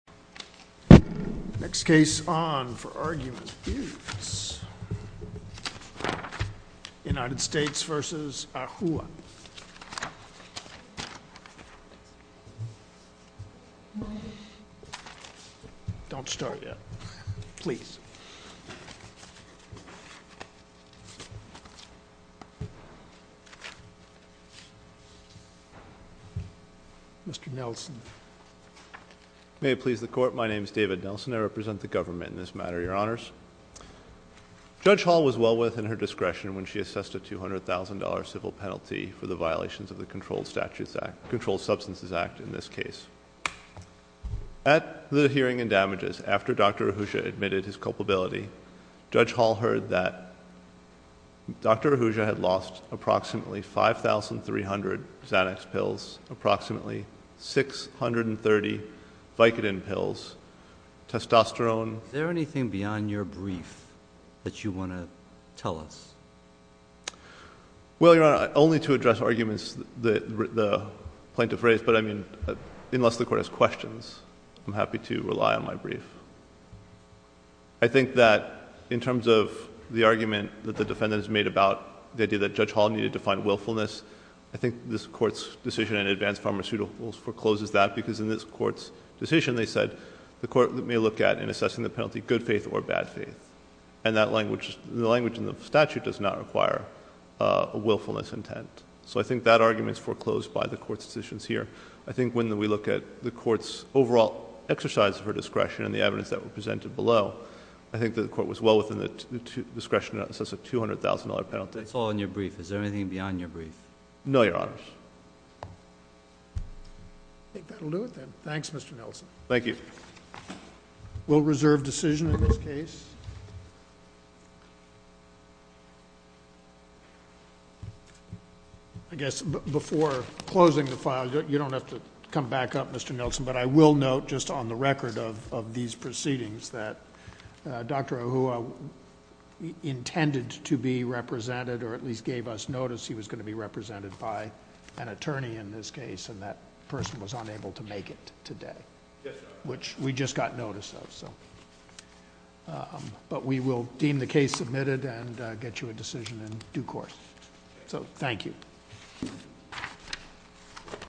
Next case on for argument is United States v. Ahua. Don't start yet. Please. Mr. Nelson. May it please the court. My name is David Nelson. I represent the government in this matter, your honors. Judge Hall was well within her discretion when she assessed a $200,000 civil penalty for the violations of the Controlled Substances Act in this case. At the hearing and damages after Dr. Ahuja admitted his culpability, Judge Hall heard that Dr. Ahuja had lost approximately 5,300 Xanax pills, approximately 630 Vicodin pills, testosterone. Is there anything beyond your brief that you want to tell us? Well, your honor, only to address arguments that the plaintiff raised, but I mean, unless the court has questions, I'm happy to rely on my brief. I think that in terms of the argument that the defendants made about the idea that Judge Hall needed to find willfulness, I think this court's decision in advance pharmaceuticals forecloses that because in this court's decision they said the court may look at in assessing the penalty good faith or bad faith. And the language in the statute does not require a willfulness intent. So I think that argument is foreclosed by the court's decisions here. I think when we look at the court's overall exercise of her discretion and the evidence that was presented below, I think the court was well within the discretion to assess a $200,000 penalty. That's all in your brief. Is there anything beyond your brief? No, your honors. I think that will do it then. Thanks, Mr. Nelson. Thank you. We'll reserve decision in this case. I guess before closing the file, you don't have to come back up, Mr. Nelson, but I will note just on the record of these proceedings that Dr. Ahuja intended to be represented or at least gave us notice he was going to be represented by an attorney in this case and that person was unable to make it today. Which we just got notice of. But we will deem the case submitted and get you a decision in due course. So, thank you.